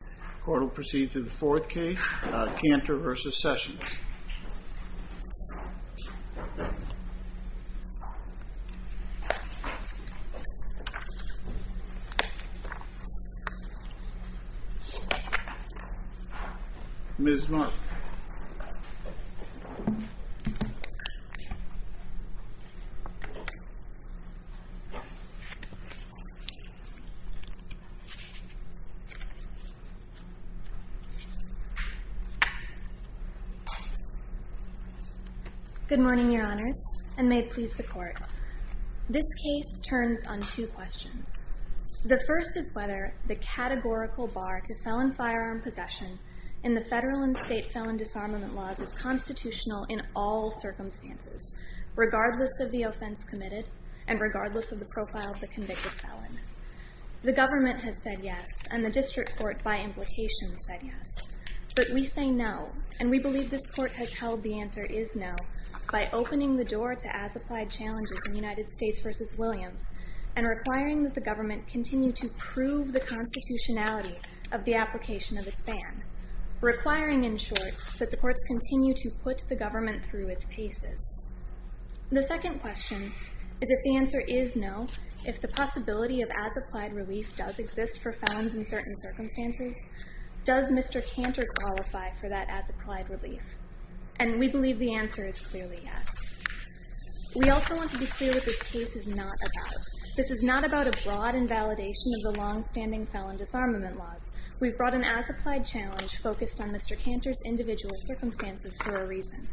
The court will proceed to the fourth case, Kanter v. Sessions. Ms. Mott Good morning, your honors, and may it please the court. This case turns on two questions. The first is whether the categorical bar to felon firearm possession in the federal and state felon disarmament laws is constitutional in all circumstances, regardless of the offense committed and regardless of the profile of the convicted felon. The government has said yes, and the district court, by implication, said yes. But we say no, and we believe this court has held the answer is no by opening the door to as-applied challenges in United States v. Williams and requiring that the government continue to prove the constitutionality of the application of its ban. Requiring, in short, that the courts continue to put the government through its paces. The second question is if the answer is no if the possibility of as-applied relief does exist for felons in certain circumstances, does Mr. Kanter qualify for that as-applied relief? And we believe the answer is clearly yes. We also want to be clear what this case is not about. This is not about a broad invalidation of the long-standing felon disarmament laws. We've brought an as-applied challenge focused on Mr. Kanter's individual circumstances for a reason.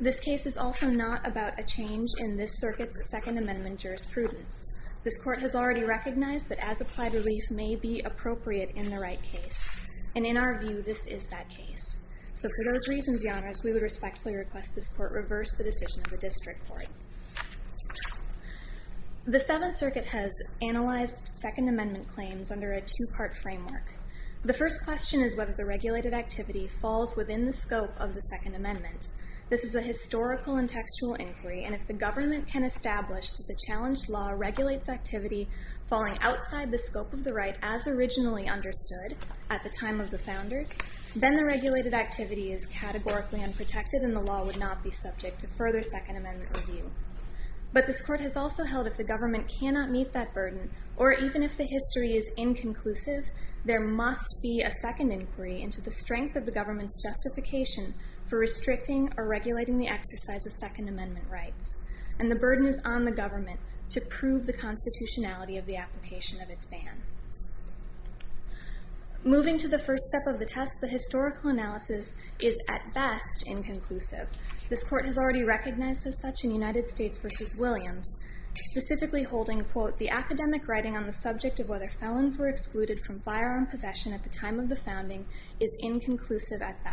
This case is also not about a change in this circuit's Second Amendment jurisprudence. This court has already recognized that as-applied relief may be appropriate in the right case. And in our view, this is that case. So for those reasons, Your Honors, we would respectfully request this court reverse the decision of the district court. The Seventh Circuit has analyzed Second Amendment claims under a two-part framework. The first question is whether the regulated activity falls within the scope of the Second Amendment. This is a historical and textual inquiry, and if the government can establish that the challenged law regulates activity falling outside the scope of the right as originally understood at the time of the founders, then the regulated activity is categorically unprotected and the law would not be subject to further Second Amendment review. But this court has also held if the government cannot meet that burden, or even if the history is inconclusive, there must be a second inquiry into the strength of the government's justification for restricting or regulating the exercise of Second Amendment rights. And the burden is on the government to prove the constitutionality of the application of its ban. Moving to the first step of the test, the historical analysis is at best inconclusive. This court has already recognized as such in United States v. Williams, specifically holding, quote, the academic writing on the subject of whether felons were excluded from the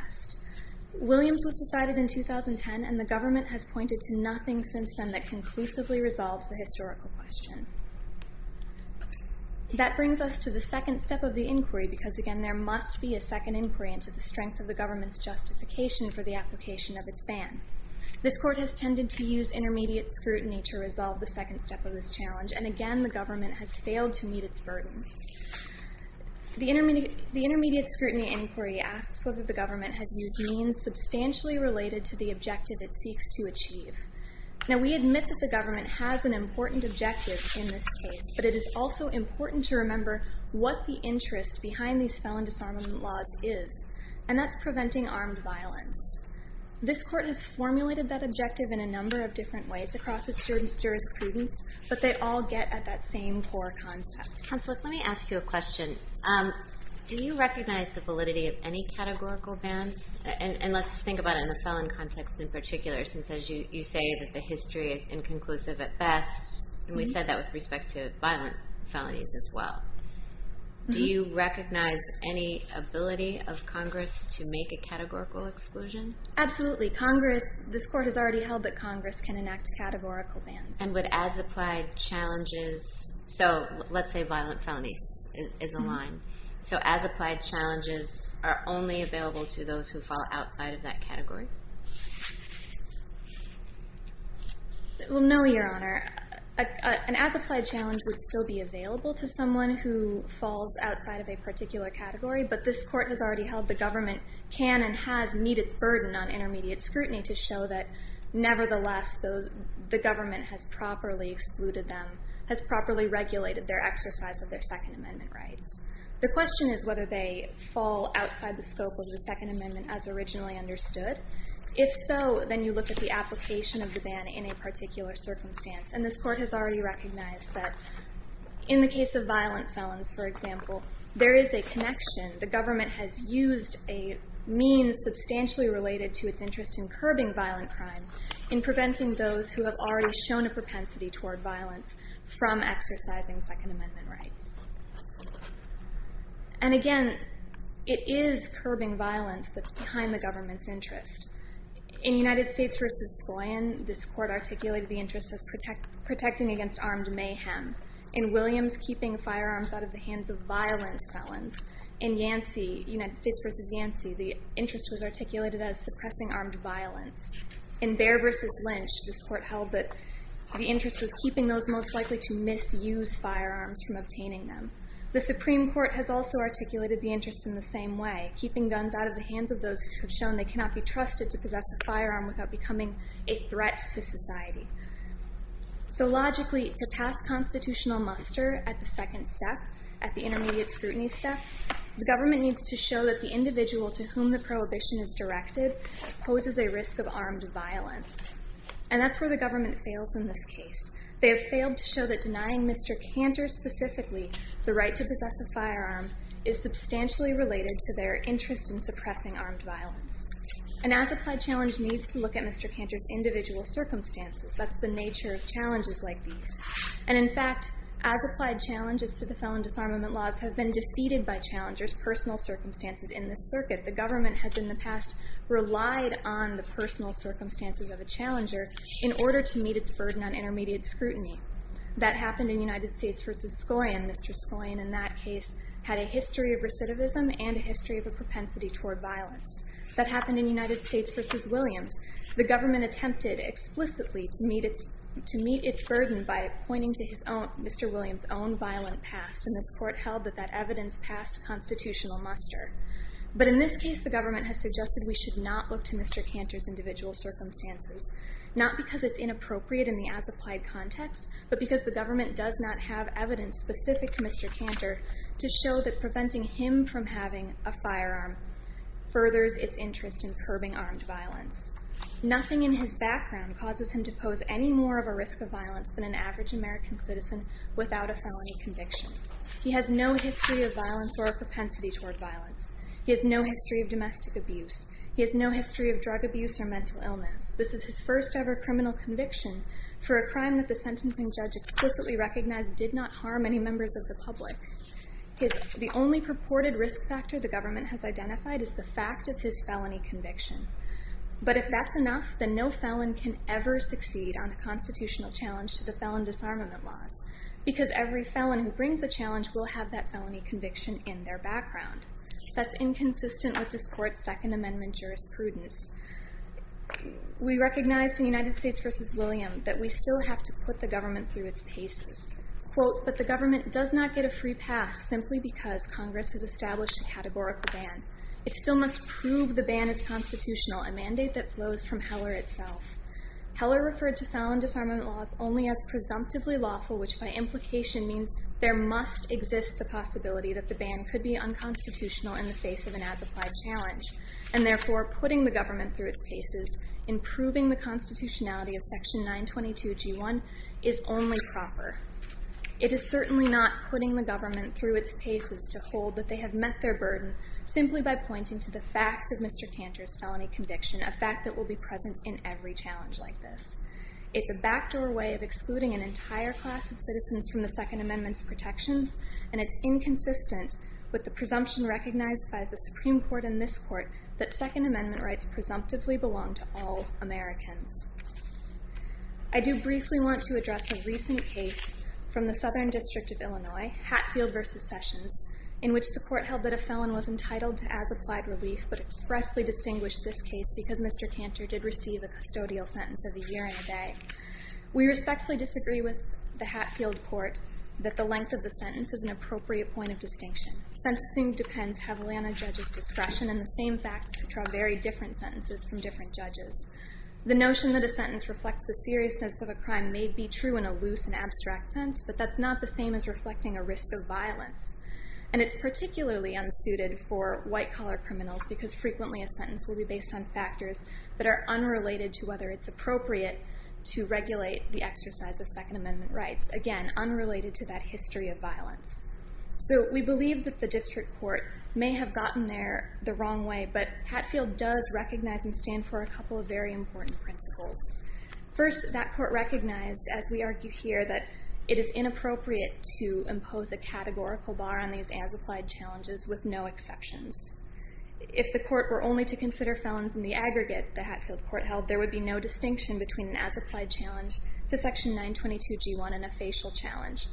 test. Williams was decided in 2010, and the government has pointed to nothing since then that conclusively resolves the historical question. That brings us to the second step of the inquiry, because again, there must be a second inquiry into the strength of the government's justification for the application of its ban. This court has tended to use intermediate scrutiny to resolve the second step of this challenge, and again, the government has failed to meet its burden. The intermediate scrutiny inquiry asks whether the government has used means substantially related to the objective it seeks to achieve. Now, we admit that the government has an important objective in this case, but it is also important to remember what the interest behind these felon disarmament laws is, and that's preventing armed violence. This court has formulated that objective in a number of different ways across its jurisprudence, but they all get at that same core concept. Counselor, let me ask you a question. Do you recognize the validity of any categorical bans? And let's think about it in the felon context in particular, since as you say that the history is inconclusive at best, and we said that with respect to violent felonies as well. Do you recognize any ability of Congress to make a categorical exclusion? Absolutely. Congress, this court has already held that Congress can enact categorical bans. And would as-applied challenges, so let's say violent felonies is a line, so as-applied challenges are only available to those who fall outside of that category? Well no, Your Honor. An as-applied challenge would still be available to someone who falls outside of a particular category, but this court has already held the government can and has met its burden on intermediate scrutiny to show that nevertheless the government has properly excluded them, has properly regulated their exercise of their Second Amendment rights. The question is whether they fall outside the scope of the Second Amendment as originally understood. If so, then you look at the application of the ban in a particular circumstance, and this court has already recognized that in the case of violent felons, for example, there is a connection. The government has used a means substantially related to its interest in curbing violent crime, in preventing those who have already shown a propensity toward violence from exercising Second Amendment rights. And again, it is curbing violence that's behind the government's interest. In United States v. Sloyan, this court articulated the interest as protecting against armed mayhem. In Williams, keeping firearms out of the hands of violent felons. In Yancey, United States v. Yancey, the interest was articulated as suppressing armed violence. In Bair v. Lynch, this court held that the interest was keeping those most likely to misuse firearms from obtaining them. The Supreme Court has also articulated the interest in the same way, keeping guns out of the hands of those who have shown they cannot be trusted to possess a firearm without becoming a threat to society. So logically, to pass constitutional muster at the second step, at the intermediate scrutiny step, the government needs to show that the individual to whom the prohibition is directed poses a risk of armed violence. And that's where the government fails in this case. They have failed to show that denying Mr. Cantor specifically the right to possess a firearm is substantially related to their interest in suppressing armed violence. And as applied challenge needs to look at Mr. Cantor's individual circumstances, that's the nature of challenges like these. And in fact, as applied challenges to the felon disarmament laws have been defeated by challengers' personal circumstances in this circuit, the government has in the past relied on the personal circumstances of a challenger in order to meet its burden on intermediate scrutiny. That happened in United States v. Scorion. Mr. Scorion in that case had a history of recidivism and a history of a propensity toward violence. That happened in United States v. Williams. The government attempted explicitly to meet its burden by pointing to Mr. Williams' own violent past. And this court held that that evidence passed constitutional muster. But in this case, the government has suggested we should not look to Mr. Cantor's individual circumstances, not because it's inappropriate in the as-applied context, but because the government does not have evidence specific to Mr. Cantor to show that preventing him from having a firearm furthers its interest in curbing armed violence. Nothing in his background causes him to pose any more of a risk of violence than an average American citizen without a felony conviction. He has no history of violence or a propensity toward violence. He has no history of domestic abuse. He has no history of drug abuse or mental illness. This is his first ever criminal conviction for a crime that the sentencing judge explicitly recognized did not harm any members of the public. The only purported risk factor the government has identified is the fact of his felony conviction. But if that's enough, then no felon can ever succeed on a constitutional challenge to the felon disarmament laws, because every felon who brings a challenge will have that felony conviction in their background. That's inconsistent with this court's Second Amendment jurisprudence. We recognized in United States v. William that we still have to put the government through its paces. Quote, but the government does not get a free pass simply because Congress has established a categorical ban. It still must prove the ban is constitutional, a mandate that flows from Heller itself. Heller referred to felon disarmament laws only as presumptively lawful, which by implication means there must exist the possibility that the ban could be improving the constitutionality of Section 922G1 is only proper. It is certainly not putting the government through its paces to hold that they have met their burden simply by pointing to the fact of Mr. Cantor's felony conviction, a fact that will be present in every challenge like this. It's a backdoor way of excluding an entire class of citizens from the Second Amendment's protections, and it's inconsistent with the presumption recognized by the Supreme Court in this court that Second Amendment rights presumptively belong to all Americans. I do briefly want to address a recent case from the Southern District of Illinois, Hatfield v. Sessions, in which the court held that a felon was entitled to as applied relief, but expressly distinguished this case because Mr. Cantor did receive a custodial sentence of a year and a day. We respectfully disagree with the Hatfield court that the length of the sentence is an appropriate point of distinction. Sentencing depends heavily on a judge's discretion and the same facts which are very different sentences from different judges. The notion that a sentence reflects the seriousness of a crime may be true in a loose and abstract sense, but that's not the same as reflecting a risk of violence, and it's particularly unsuited for white-collar criminals because frequently a sentence will be based on factors that are unrelated to whether it's appropriate to regulate the exercise of Second Amendment rights, again, unrelated to that history of violence. So we believe that the district court may have gotten there the wrong way, but Hatfield does recognize and stand for a couple of very important principles. First, that court recognized, as we argue here, that it is inappropriate to impose a categorical bar on these as-applied challenges with no exceptions. If the court were only to consider felons in the aggregate the Hatfield court held, there would be no distinction between an as-applied challenge to Section 922G1 and a facial challenge.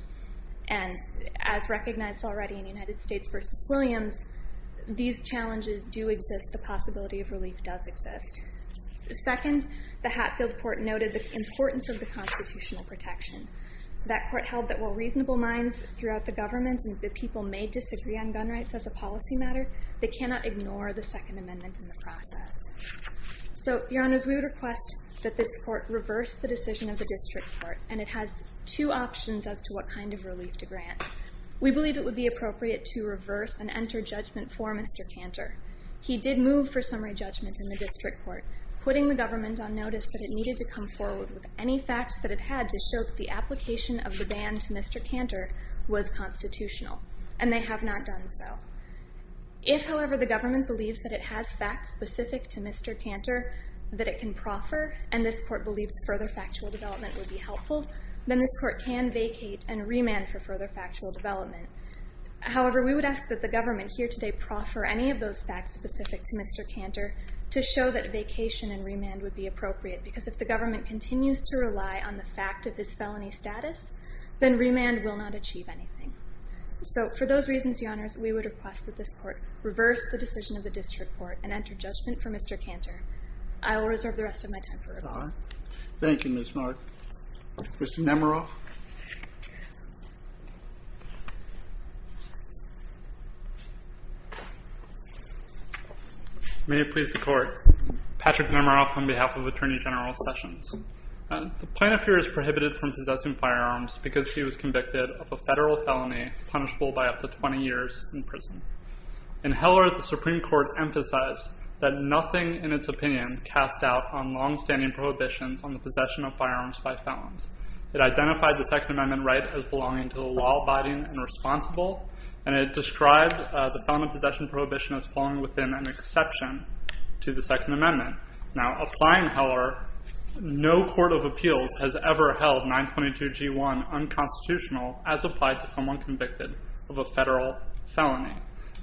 And as recognized already in United States v. Williams, these challenges do exist, the possibility of relief does exist. Second, the Hatfield court noted the importance of the constitutional protection. That court held that while reasonable minds throughout the government and the people may disagree on gun rights as a policy matter, they cannot ignore the Second Amendment in the process. So, Your Honors, we would request that this court reverse the decision of the district court, and it has two options as to what kind of relief to grant. We believe it would be appropriate to reverse and enter judgment for Mr. Cantor. He did move for summary judgment in the district court, putting the government on notice that it needed to come forward with any facts that it had to show that the application of the ban to Mr. Cantor was constitutional, and they have not done so. If, however, the government believes that it has facts specific to Mr. Cantor that it can proffer, and this court believes further factual development would be helpful, then this court can vacate and remand for further factual development. However, we would ask that the government here today proffer any of those facts specific to Mr. Cantor to show that vacation and remand would be appropriate, because if the government continues to rely on the fact of his felony status, then remand will not achieve anything. So, for those reasons, Your Honors, we would request that this court reverse the decision of the district court and enter judgment for Mr. Cantor. I will reserve the rest of my time for rebuttal. Thank you, Ms. Mark. Mr. Nemeroff? May it please the Court. Patrick Nemeroff on behalf of Attorney General Sessions. The plaintiff here is prohibited from possessing firearms because he was convicted of a federal felony punishable by up to 20 years in prison. In Heller, the Supreme Court emphasized that nothing in its opinion cast doubt on longstanding prohibitions on the possession of firearms by felons. It identified the Second Amendment right as belonging to the law abiding and responsible, and it described the felon of possession prohibition as falling within an exception to the Second Amendment. Now, applying Heller, no court of appeals has ever held 922G1 unconstitutional as applied to someone convicted of a federal felony.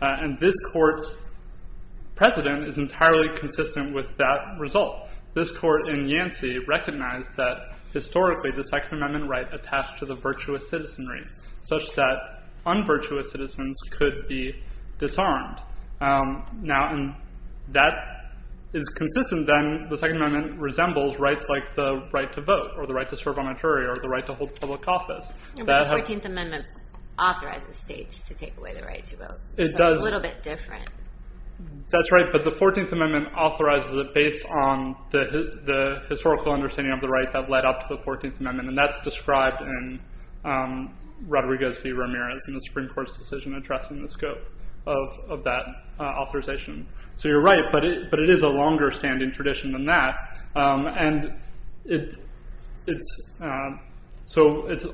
And this court's precedent is entirely consistent with that result. This court in Yancey recognized that historically the Second Amendment right attached to the virtuous citizenry, such that unvirtuous citizens could be disarmed. Now, if that is consistent, then the Second Amendment resembles rights like the right to vote, or the right to serve on a jury, or the right to hold public office. But the 14th Amendment authorizes states to take away the right to vote different. That's right, but the 14th Amendment authorizes it based on the historical understanding of the right that led up to the 14th Amendment, and that's described in Rodriguez v. Ramirez in the Supreme Court's decision addressing the scope of that authorization. So you're right, but it is a longer-standing tradition than that. And so it's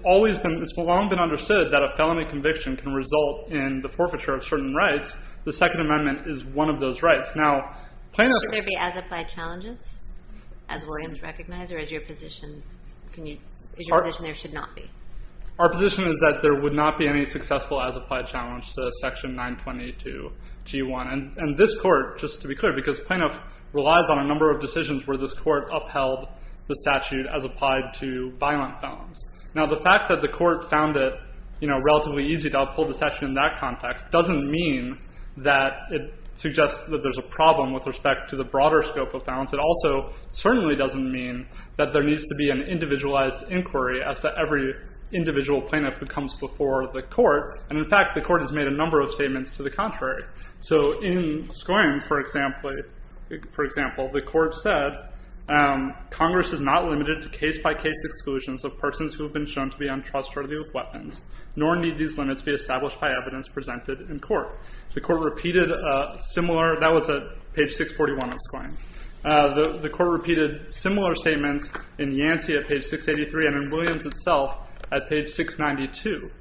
long been understood that a felony conviction can result in the forfeiture of certain rights. The Second Amendment is one of those rights. Now, plaintiff Could there be as-applied challenges, as Williams recognized, or is your position there should not be? Our position is that there would not be any successful as-applied challenge to Section 922G1. And this court, just to be clear, because plaintiff relies on a number of decisions where this court upheld the statute as applied to violent felons. Now, the fact that the court found it relatively easy to uphold the statute in that context doesn't mean that it suggests that there's a problem with respect to the broader scope of felons. It also certainly doesn't mean that there needs to be an individualized inquiry as to every individual plaintiff who comes before the court. And in fact, the court has made a number of statements to the contrary. So in Skoyne, for example, the court said, Congress is not limited to case-by-case exclusions of persons who have been shown to be untrustworthy of weapons, nor need these limits be established by evidence presented in court. The court repeated similar, that was at page 641 of Skoyne, the court repeated similar statements in Yancey at page 683 and in Williams itself at page 692.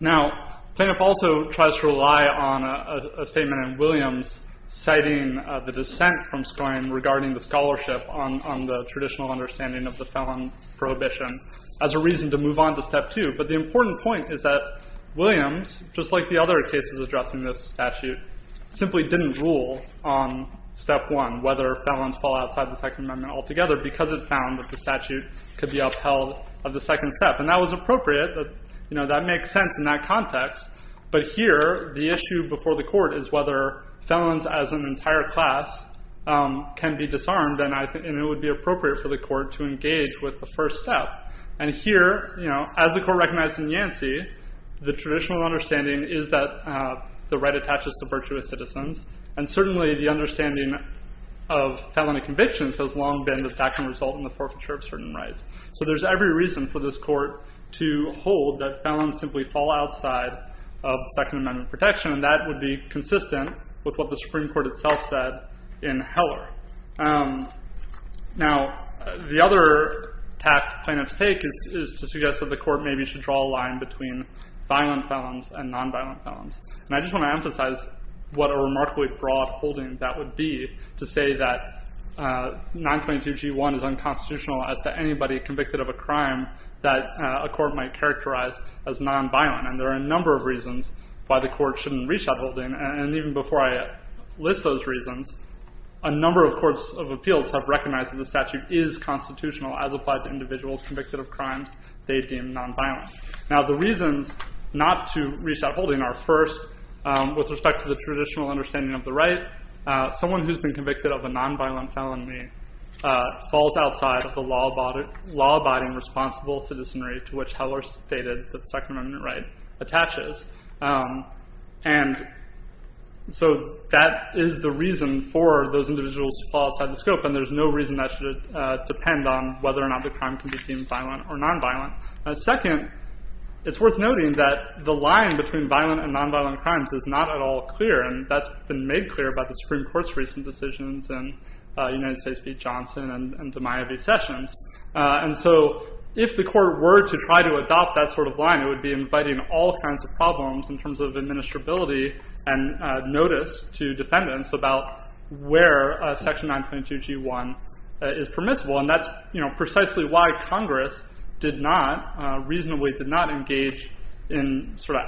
Now, plaintiff also tries to rely on a statement in Williams citing the dissent from Skoyne regarding the scholarship on the traditional understanding of the felon prohibition as a reason to move on to step two. But the important point is that Williams, just like the other cases addressing this statute, simply didn't rule on step one, whether felons fall outside the Second Amendment altogether, because it found that the statute could be upheld of the second step. And that was appropriate. That makes sense in that context. But here, the issue before the court is whether felons as an entire class can be disarmed, and it would be appropriate for the court to engage with the first step. And here, as the court recognized in Yancey, the traditional understanding is that the right attaches to virtuous citizens, and certainly the understanding of felony convictions has long been that that can result in the forfeiture of certain rights. So there's every reason for this court to hold that felons simply fall outside of Second Amendment protection, and that would be consistent with what the Supreme Court itself said in Heller. Now, the other tact plaintiff's take is to suggest that the court maybe should draw a line between violent felons and nonviolent felons. And I just want to emphasize what a remarkably broad holding that would be to say that 922G1 is unconstitutional as to anybody convicted of a crime that a court might characterize as nonviolent. And there are a number of reasons why the court shouldn't reach that holding. And even before I list those reasons, a number of courts of appeals have recognized that the statute is constitutional as applied to individuals convicted of crimes they deem nonviolent. Now, the reasons not to reach that holding are, first, with respect to the traditional understanding of the right, someone who's been convicted of a nonviolent felony falls outside of the law-abiding responsible citizenry to which Heller stated that the Second Amendment right attaches. And so that is the reason for those individuals to fall outside the scope, and there's no reason that should depend on whether or not the crime can be deemed violent or nonviolent. Second, it's worth noting that the line between violent and nonviolent crimes is not at all clear, and that's been made clear by the Supreme Court's recent decisions in United States v. Johnson and DeMaio v. Sessions. And so if the court were to try to adopt that sort of line, it would be inviting all kinds of problems in terms of administrability and notice to defendants about where Section 922G1 is permissible. And that's precisely why Congress reasonably did not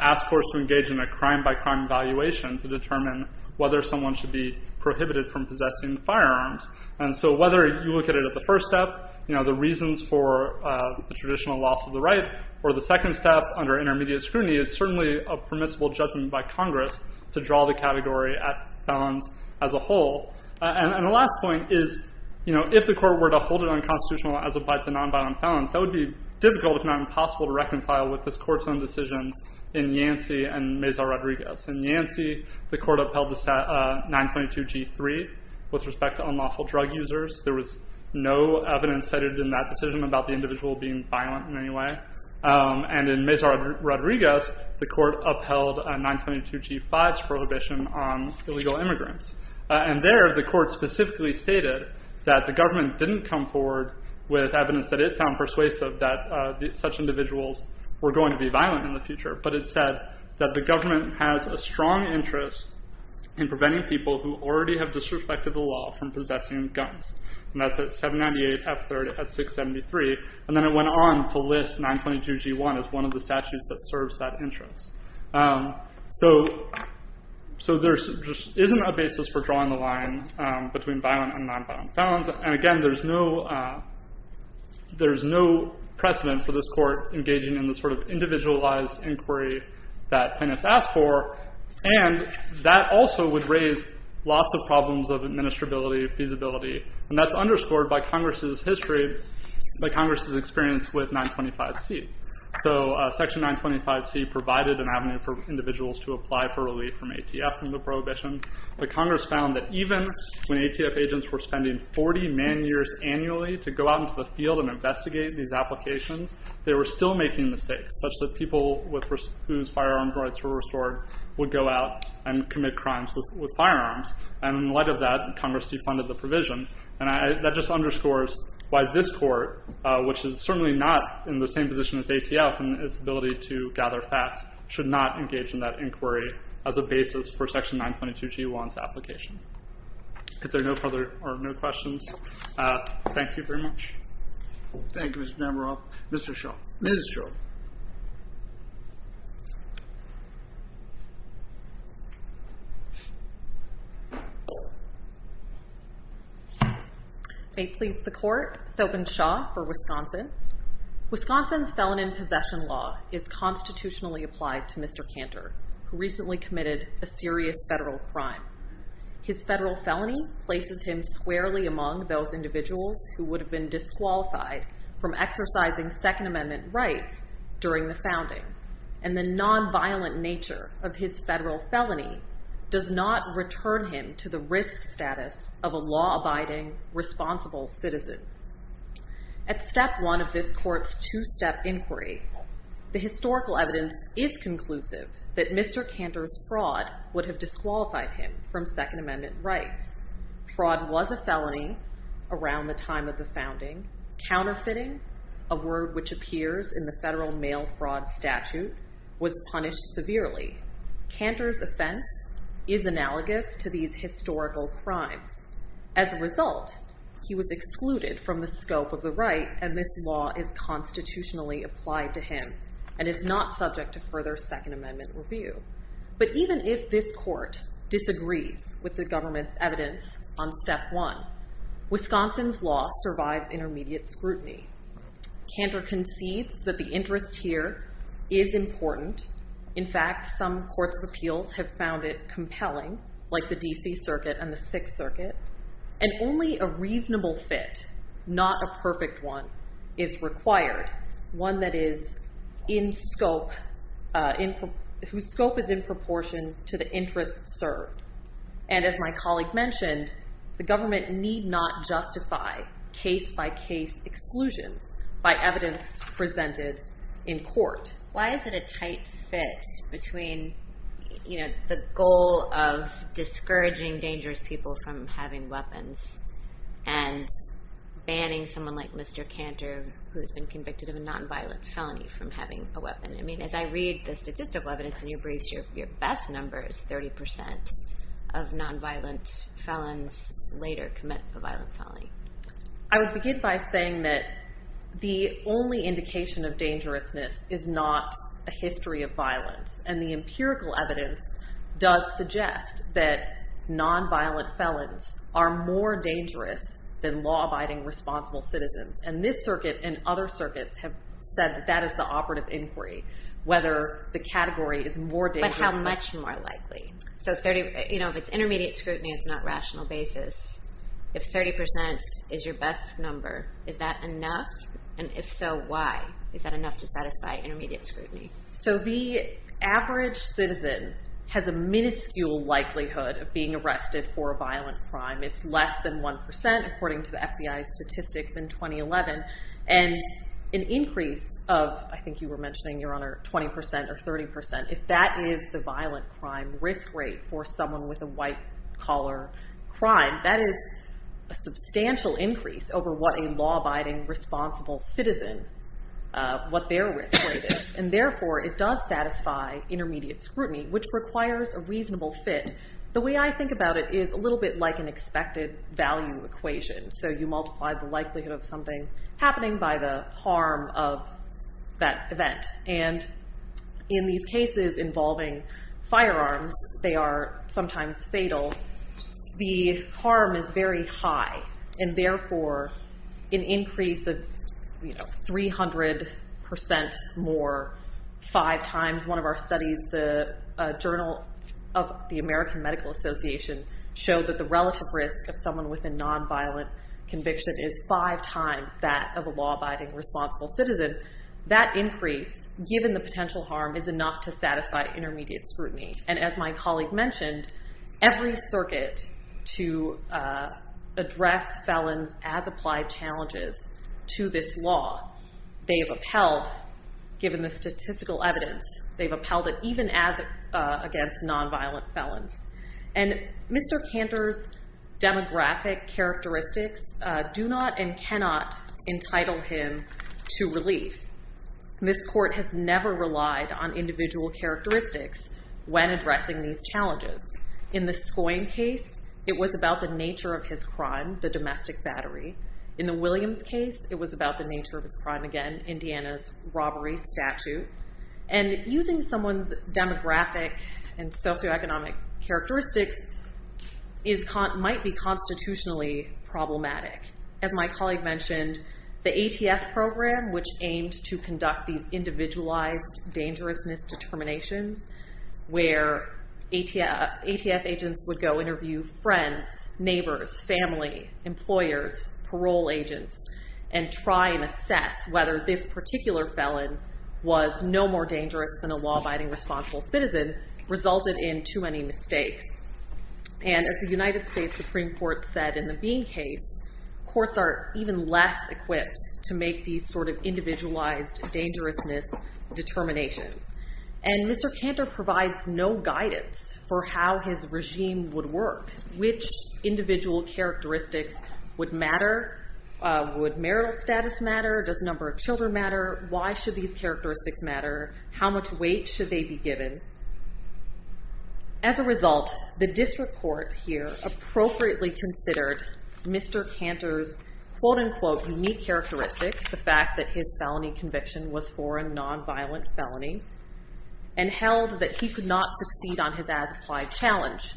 ask courts to engage in a crime-by-crime evaluation to determine whether someone should be prohibited from possessing firearms. And so whether you look at it at the first step, the reasons for the traditional loss of the right, or the second step, under intermediate scrutiny, is certainly a permissible judgment by Congress to draw the category at felons as a whole. And the last point is, if the court were to hold it unconstitutional as applied to nonviolent felons, that would be difficult, if not impossible, to reconcile with this court's own decisions in Yancey and Mazar-Rodriguez. In Yancey, the court upheld the 922G3 with respect to unlawful drug users. There was no evidence cited in that decision about the individual being violent in any way. And in Mazar-Rodriguez, the court upheld 922G5's prohibition on illegal immigrants. And there, the court specifically stated that the government didn't come forward with evidence that it found persuasive that such individuals were going to be violent in the future, but it said that the government has a strong interest in preventing people who already have disrespected the law from possessing guns. And that's at 798F3 at 673. And then it went on to list 922G1 as one of the statutes that serves that interest. So there just isn't a basis for drawing the line between violent and nonviolent felons. And again, there's no precedent for this court engaging in the sort of individualized inquiry that Pinniff's asked for. And that also would raise lots of problems of administrability, feasibility. And that's underscored by Congress's history, by Congress's experience with 925C. So Section 925C provided an avenue for individuals to apply for relief from ATF and the prohibition. But Congress found that even when ATF agents were spending 40 man-years annually to go out into the field and investigate these applications, they were still making mistakes, such that people whose firearms rights were restored would go out and commit crimes with firearms. And in light of that, Congress defunded the provision. And that just underscores why this court, which is certainly not in the same position as ATF in its ability to gather facts, should not engage in that inquiry as a basis for Section 922G1's application. If there are no further questions, thank you very much. Thank you, Mr. Nemeroff. Mr. Shaw. Ms. Shaw. May it please the Court, Sobhan Shaw for Wisconsin. Wisconsin's Felon in Possession Law is constitutionally applied to Mr. Cantor, who recently committed a serious federal crime. His federal felony places him squarely among those individuals who would have been disqualified from exercising Second Amendment rights during the founding. And the nonviolent nature of his federal felony does not return him to the risk status of a law-abiding, responsible citizen. At Step 1 of this Court's two-step inquiry, the historical evidence is conclusive that Mr. Cantor's fraud would have disqualified him from Second Amendment rights. Fraud was a felony around the time of the founding. Counterfeiting, a word which appears in the federal mail fraud statute, was punished severely. Cantor's offense is analogous to these historical crimes. As a result, he was excluded from the scope of the right, and this law is constitutionally applied to him and is not subject to further Second Amendment review. But even if this Court disagrees with the government's evidence on Step 1, Wisconsin's law survives intermediate scrutiny. Cantor concedes that the interest here is important. In fact, some courts of appeals have found it compelling, like the D.C. Circuit and the Sixth Circuit. And only a reasonable fit, not a perfect one, is required. One that is in scope, whose scope is in proportion to the interest served. And as my colleague mentioned, the government need not justify case-by-case exclusions by evidence presented in court. Why is it a tight fit between the goal of discouraging dangerous people from having weapons and banning someone like Mr. Cantor, who has been convicted of a nonviolent felony, from having a weapon? I mean, as I read the statistical evidence in your briefs, your best number is 30% of nonviolent felons later commit a violent felony. I would begin by saying that the only indication of dangerousness is not a history of violence. And the empirical evidence does suggest that nonviolent felons are more dangerous than law-abiding, responsible citizens. And this Circuit and other Circuits have said that that is the operative inquiry, whether the category is more dangerous. But how much more likely? So if it's intermediate scrutiny, it's not rational basis. If 30% is your best number, is that enough? And if so, why is that enough to satisfy intermediate scrutiny? So the average citizen has a minuscule likelihood of being arrested for a violent crime. It's less than 1%, according to the FBI statistics in 2011. And an increase of, I think you were mentioning, Your Honor, 20% or 30%, if that is the violent crime risk rate for someone with a white collar crime, that is a substantial increase over what a law-abiding, responsible citizen, what their risk rate is. And therefore, it does satisfy intermediate scrutiny, which requires a reasonable fit. The way I think about it is a little bit like an expected value equation. So you multiply the likelihood of something happening by the harm of that event. And in these cases involving firearms, they are sometimes fatal. The harm is very high. And therefore, an increase of, you know, 300% more five times. One of our studies, the Journal of the American Medical Association, showed that the relative risk of someone with a nonviolent conviction is five times that of a law-abiding, responsible citizen. That increase, given the potential harm, is enough to satisfy intermediate scrutiny. And as my colleague mentioned, every circuit to address felons as applied challenges to this law, they have upheld, given the statistical evidence, they've upheld it even as against nonviolent felons. And Mr. Cantor's demographic characteristics do not and cannot entitle him to relief. This court has never relied on individual characteristics when addressing these challenges. In the Scoyne case, it was about the nature of his crime, the domestic battery. In the Williams case, it was about the nature of his crime again, Indiana's robbery statute. And using someone's demographic and socioeconomic characteristics might be constitutionally problematic. As my colleague mentioned, the ATF program, which aimed to conduct these individualized dangerousness determinations, where ATF agents would go interview friends, neighbors, family, employers, parole agents, and try and assess whether this particular felon was no more dangerous than a law-abiding, responsible citizen, resulted in too many mistakes. And as the United States Supreme Court said in the Bean case, courts are even less equipped to make these sort of individualized dangerousness determinations. And Mr. Cantor provides no guidance for how his regime would work. Which individual characteristics would matter? Would marital status matter? Does number of children matter? Why should these characteristics matter? How much weight should they be given? As a result, the district court here appropriately considered Mr. Cantor's quote-unquote unique characteristics, the fact that his felony conviction was for a nonviolent felony, and held that he could not succeed on his as-applied challenge.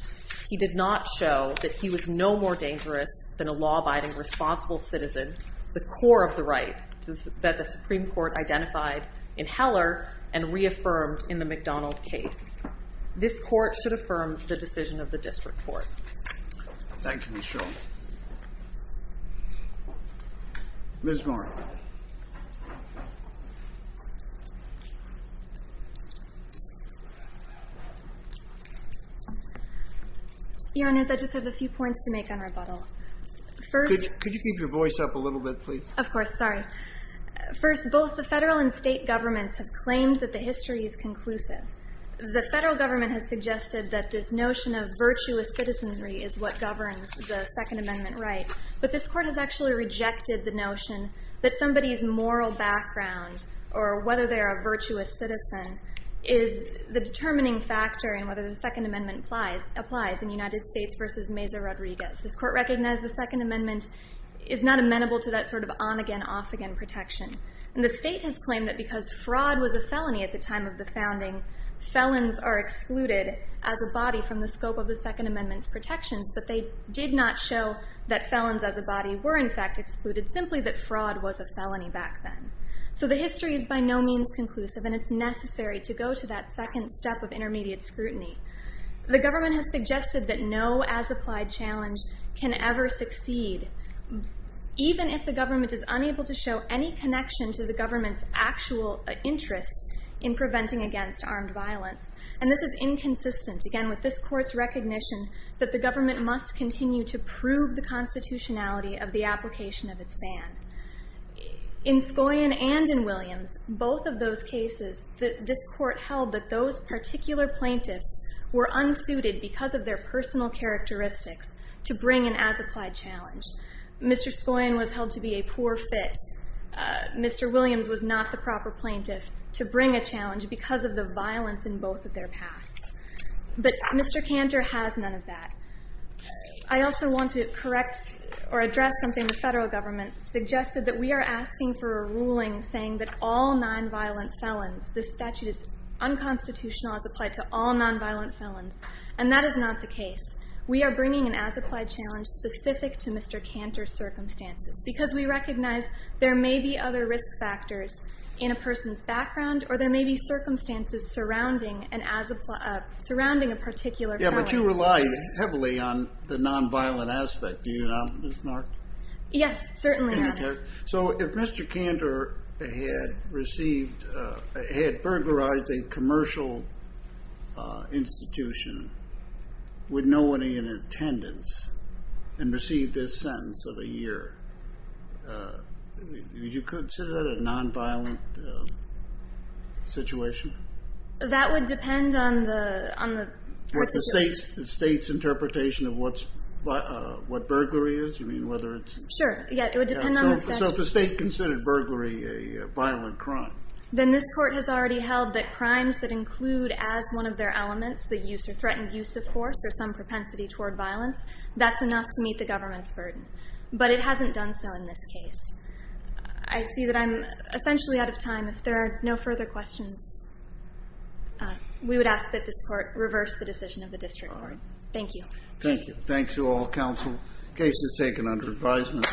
He did not show that he was no more dangerous than a law-abiding, responsible citizen, the core of the right that the Supreme Court identified in Heller and reaffirmed in the McDonald case. This court should affirm the decision of the district court. Thank you, Michelle. Ms. Moore. Your Honors, I just have a few points to make on rebuttal. Could you keep your voice up a little bit, please? Of course. Sorry. First, both the federal and state governments have claimed that the history is conclusive. The federal government has suggested that this notion of virtuous citizenry is what governs the Second Amendment right. But this court has actually rejected the notion that somebody's moral background, or whether they're a virtuous citizen, is the determining factor in whether the Second Amendment applies in United States v. Mesa Rodriguez. This court recognized the Second Amendment is not amenable to that sort of on-again, off-again protection. And the state has claimed that because fraud was a felony at the time of the founding, felons are excluded as a body from the scope of the Second Amendment's protections, but they did not show that felons as a body were, in fact, excluded, simply that fraud was a felony back then. So the history is by no means conclusive, and it's necessary to go to that second step of intermediate scrutiny. The government has suggested that no as-applied challenge can ever succeed, even if the government is unable to show any connection to the government's actual interest in preventing against armed violence. And this is inconsistent, again, with this court's recognition that the government must continue to prove the constitutionality of the application of its ban. In Scoyan and in Williams, both of those cases, this court held that those particular plaintiffs were unsuited because of their personal characteristics to bring an as-applied challenge. Mr. Scoyan was held to be a poor fit. Mr. Williams was not the proper plaintiff to bring a challenge because of the violence in both of their pasts. But Mr. Cantor has none of that. I also want to correct or address something the federal government suggested, that we are asking for a ruling saying that all nonviolent felons, this statute is unconstitutional as applied to all nonviolent felons, and that is not the case. We are bringing an as-applied challenge specific to Mr. Cantor's circumstances because we recognize there may be other risk factors in a person's background or there may be circumstances surrounding a particular felon. Yeah, but you rely heavily on the nonviolent aspect, do you not, Ms. Mark? Yes, certainly I do. So if Mr. Cantor had received, had burglarized a commercial institution with no one in attendance and received this sentence of a year, would you consider that a nonviolent situation? That would depend on the court's view. The state's interpretation of what burglary is? Sure, yeah, it would depend on the state. So if the state considered burglary a violent crime. Then this court has already held that crimes that include as one of their elements the use or threatened use of force or some propensity toward violence, that's enough to meet the government's burden. But it hasn't done so in this case. I see that I'm essentially out of time. If there are no further questions, we would ask that this court reverse the decision of the district court. Thank you. Thank you. Thank you all, counsel. Case is taken under advisement.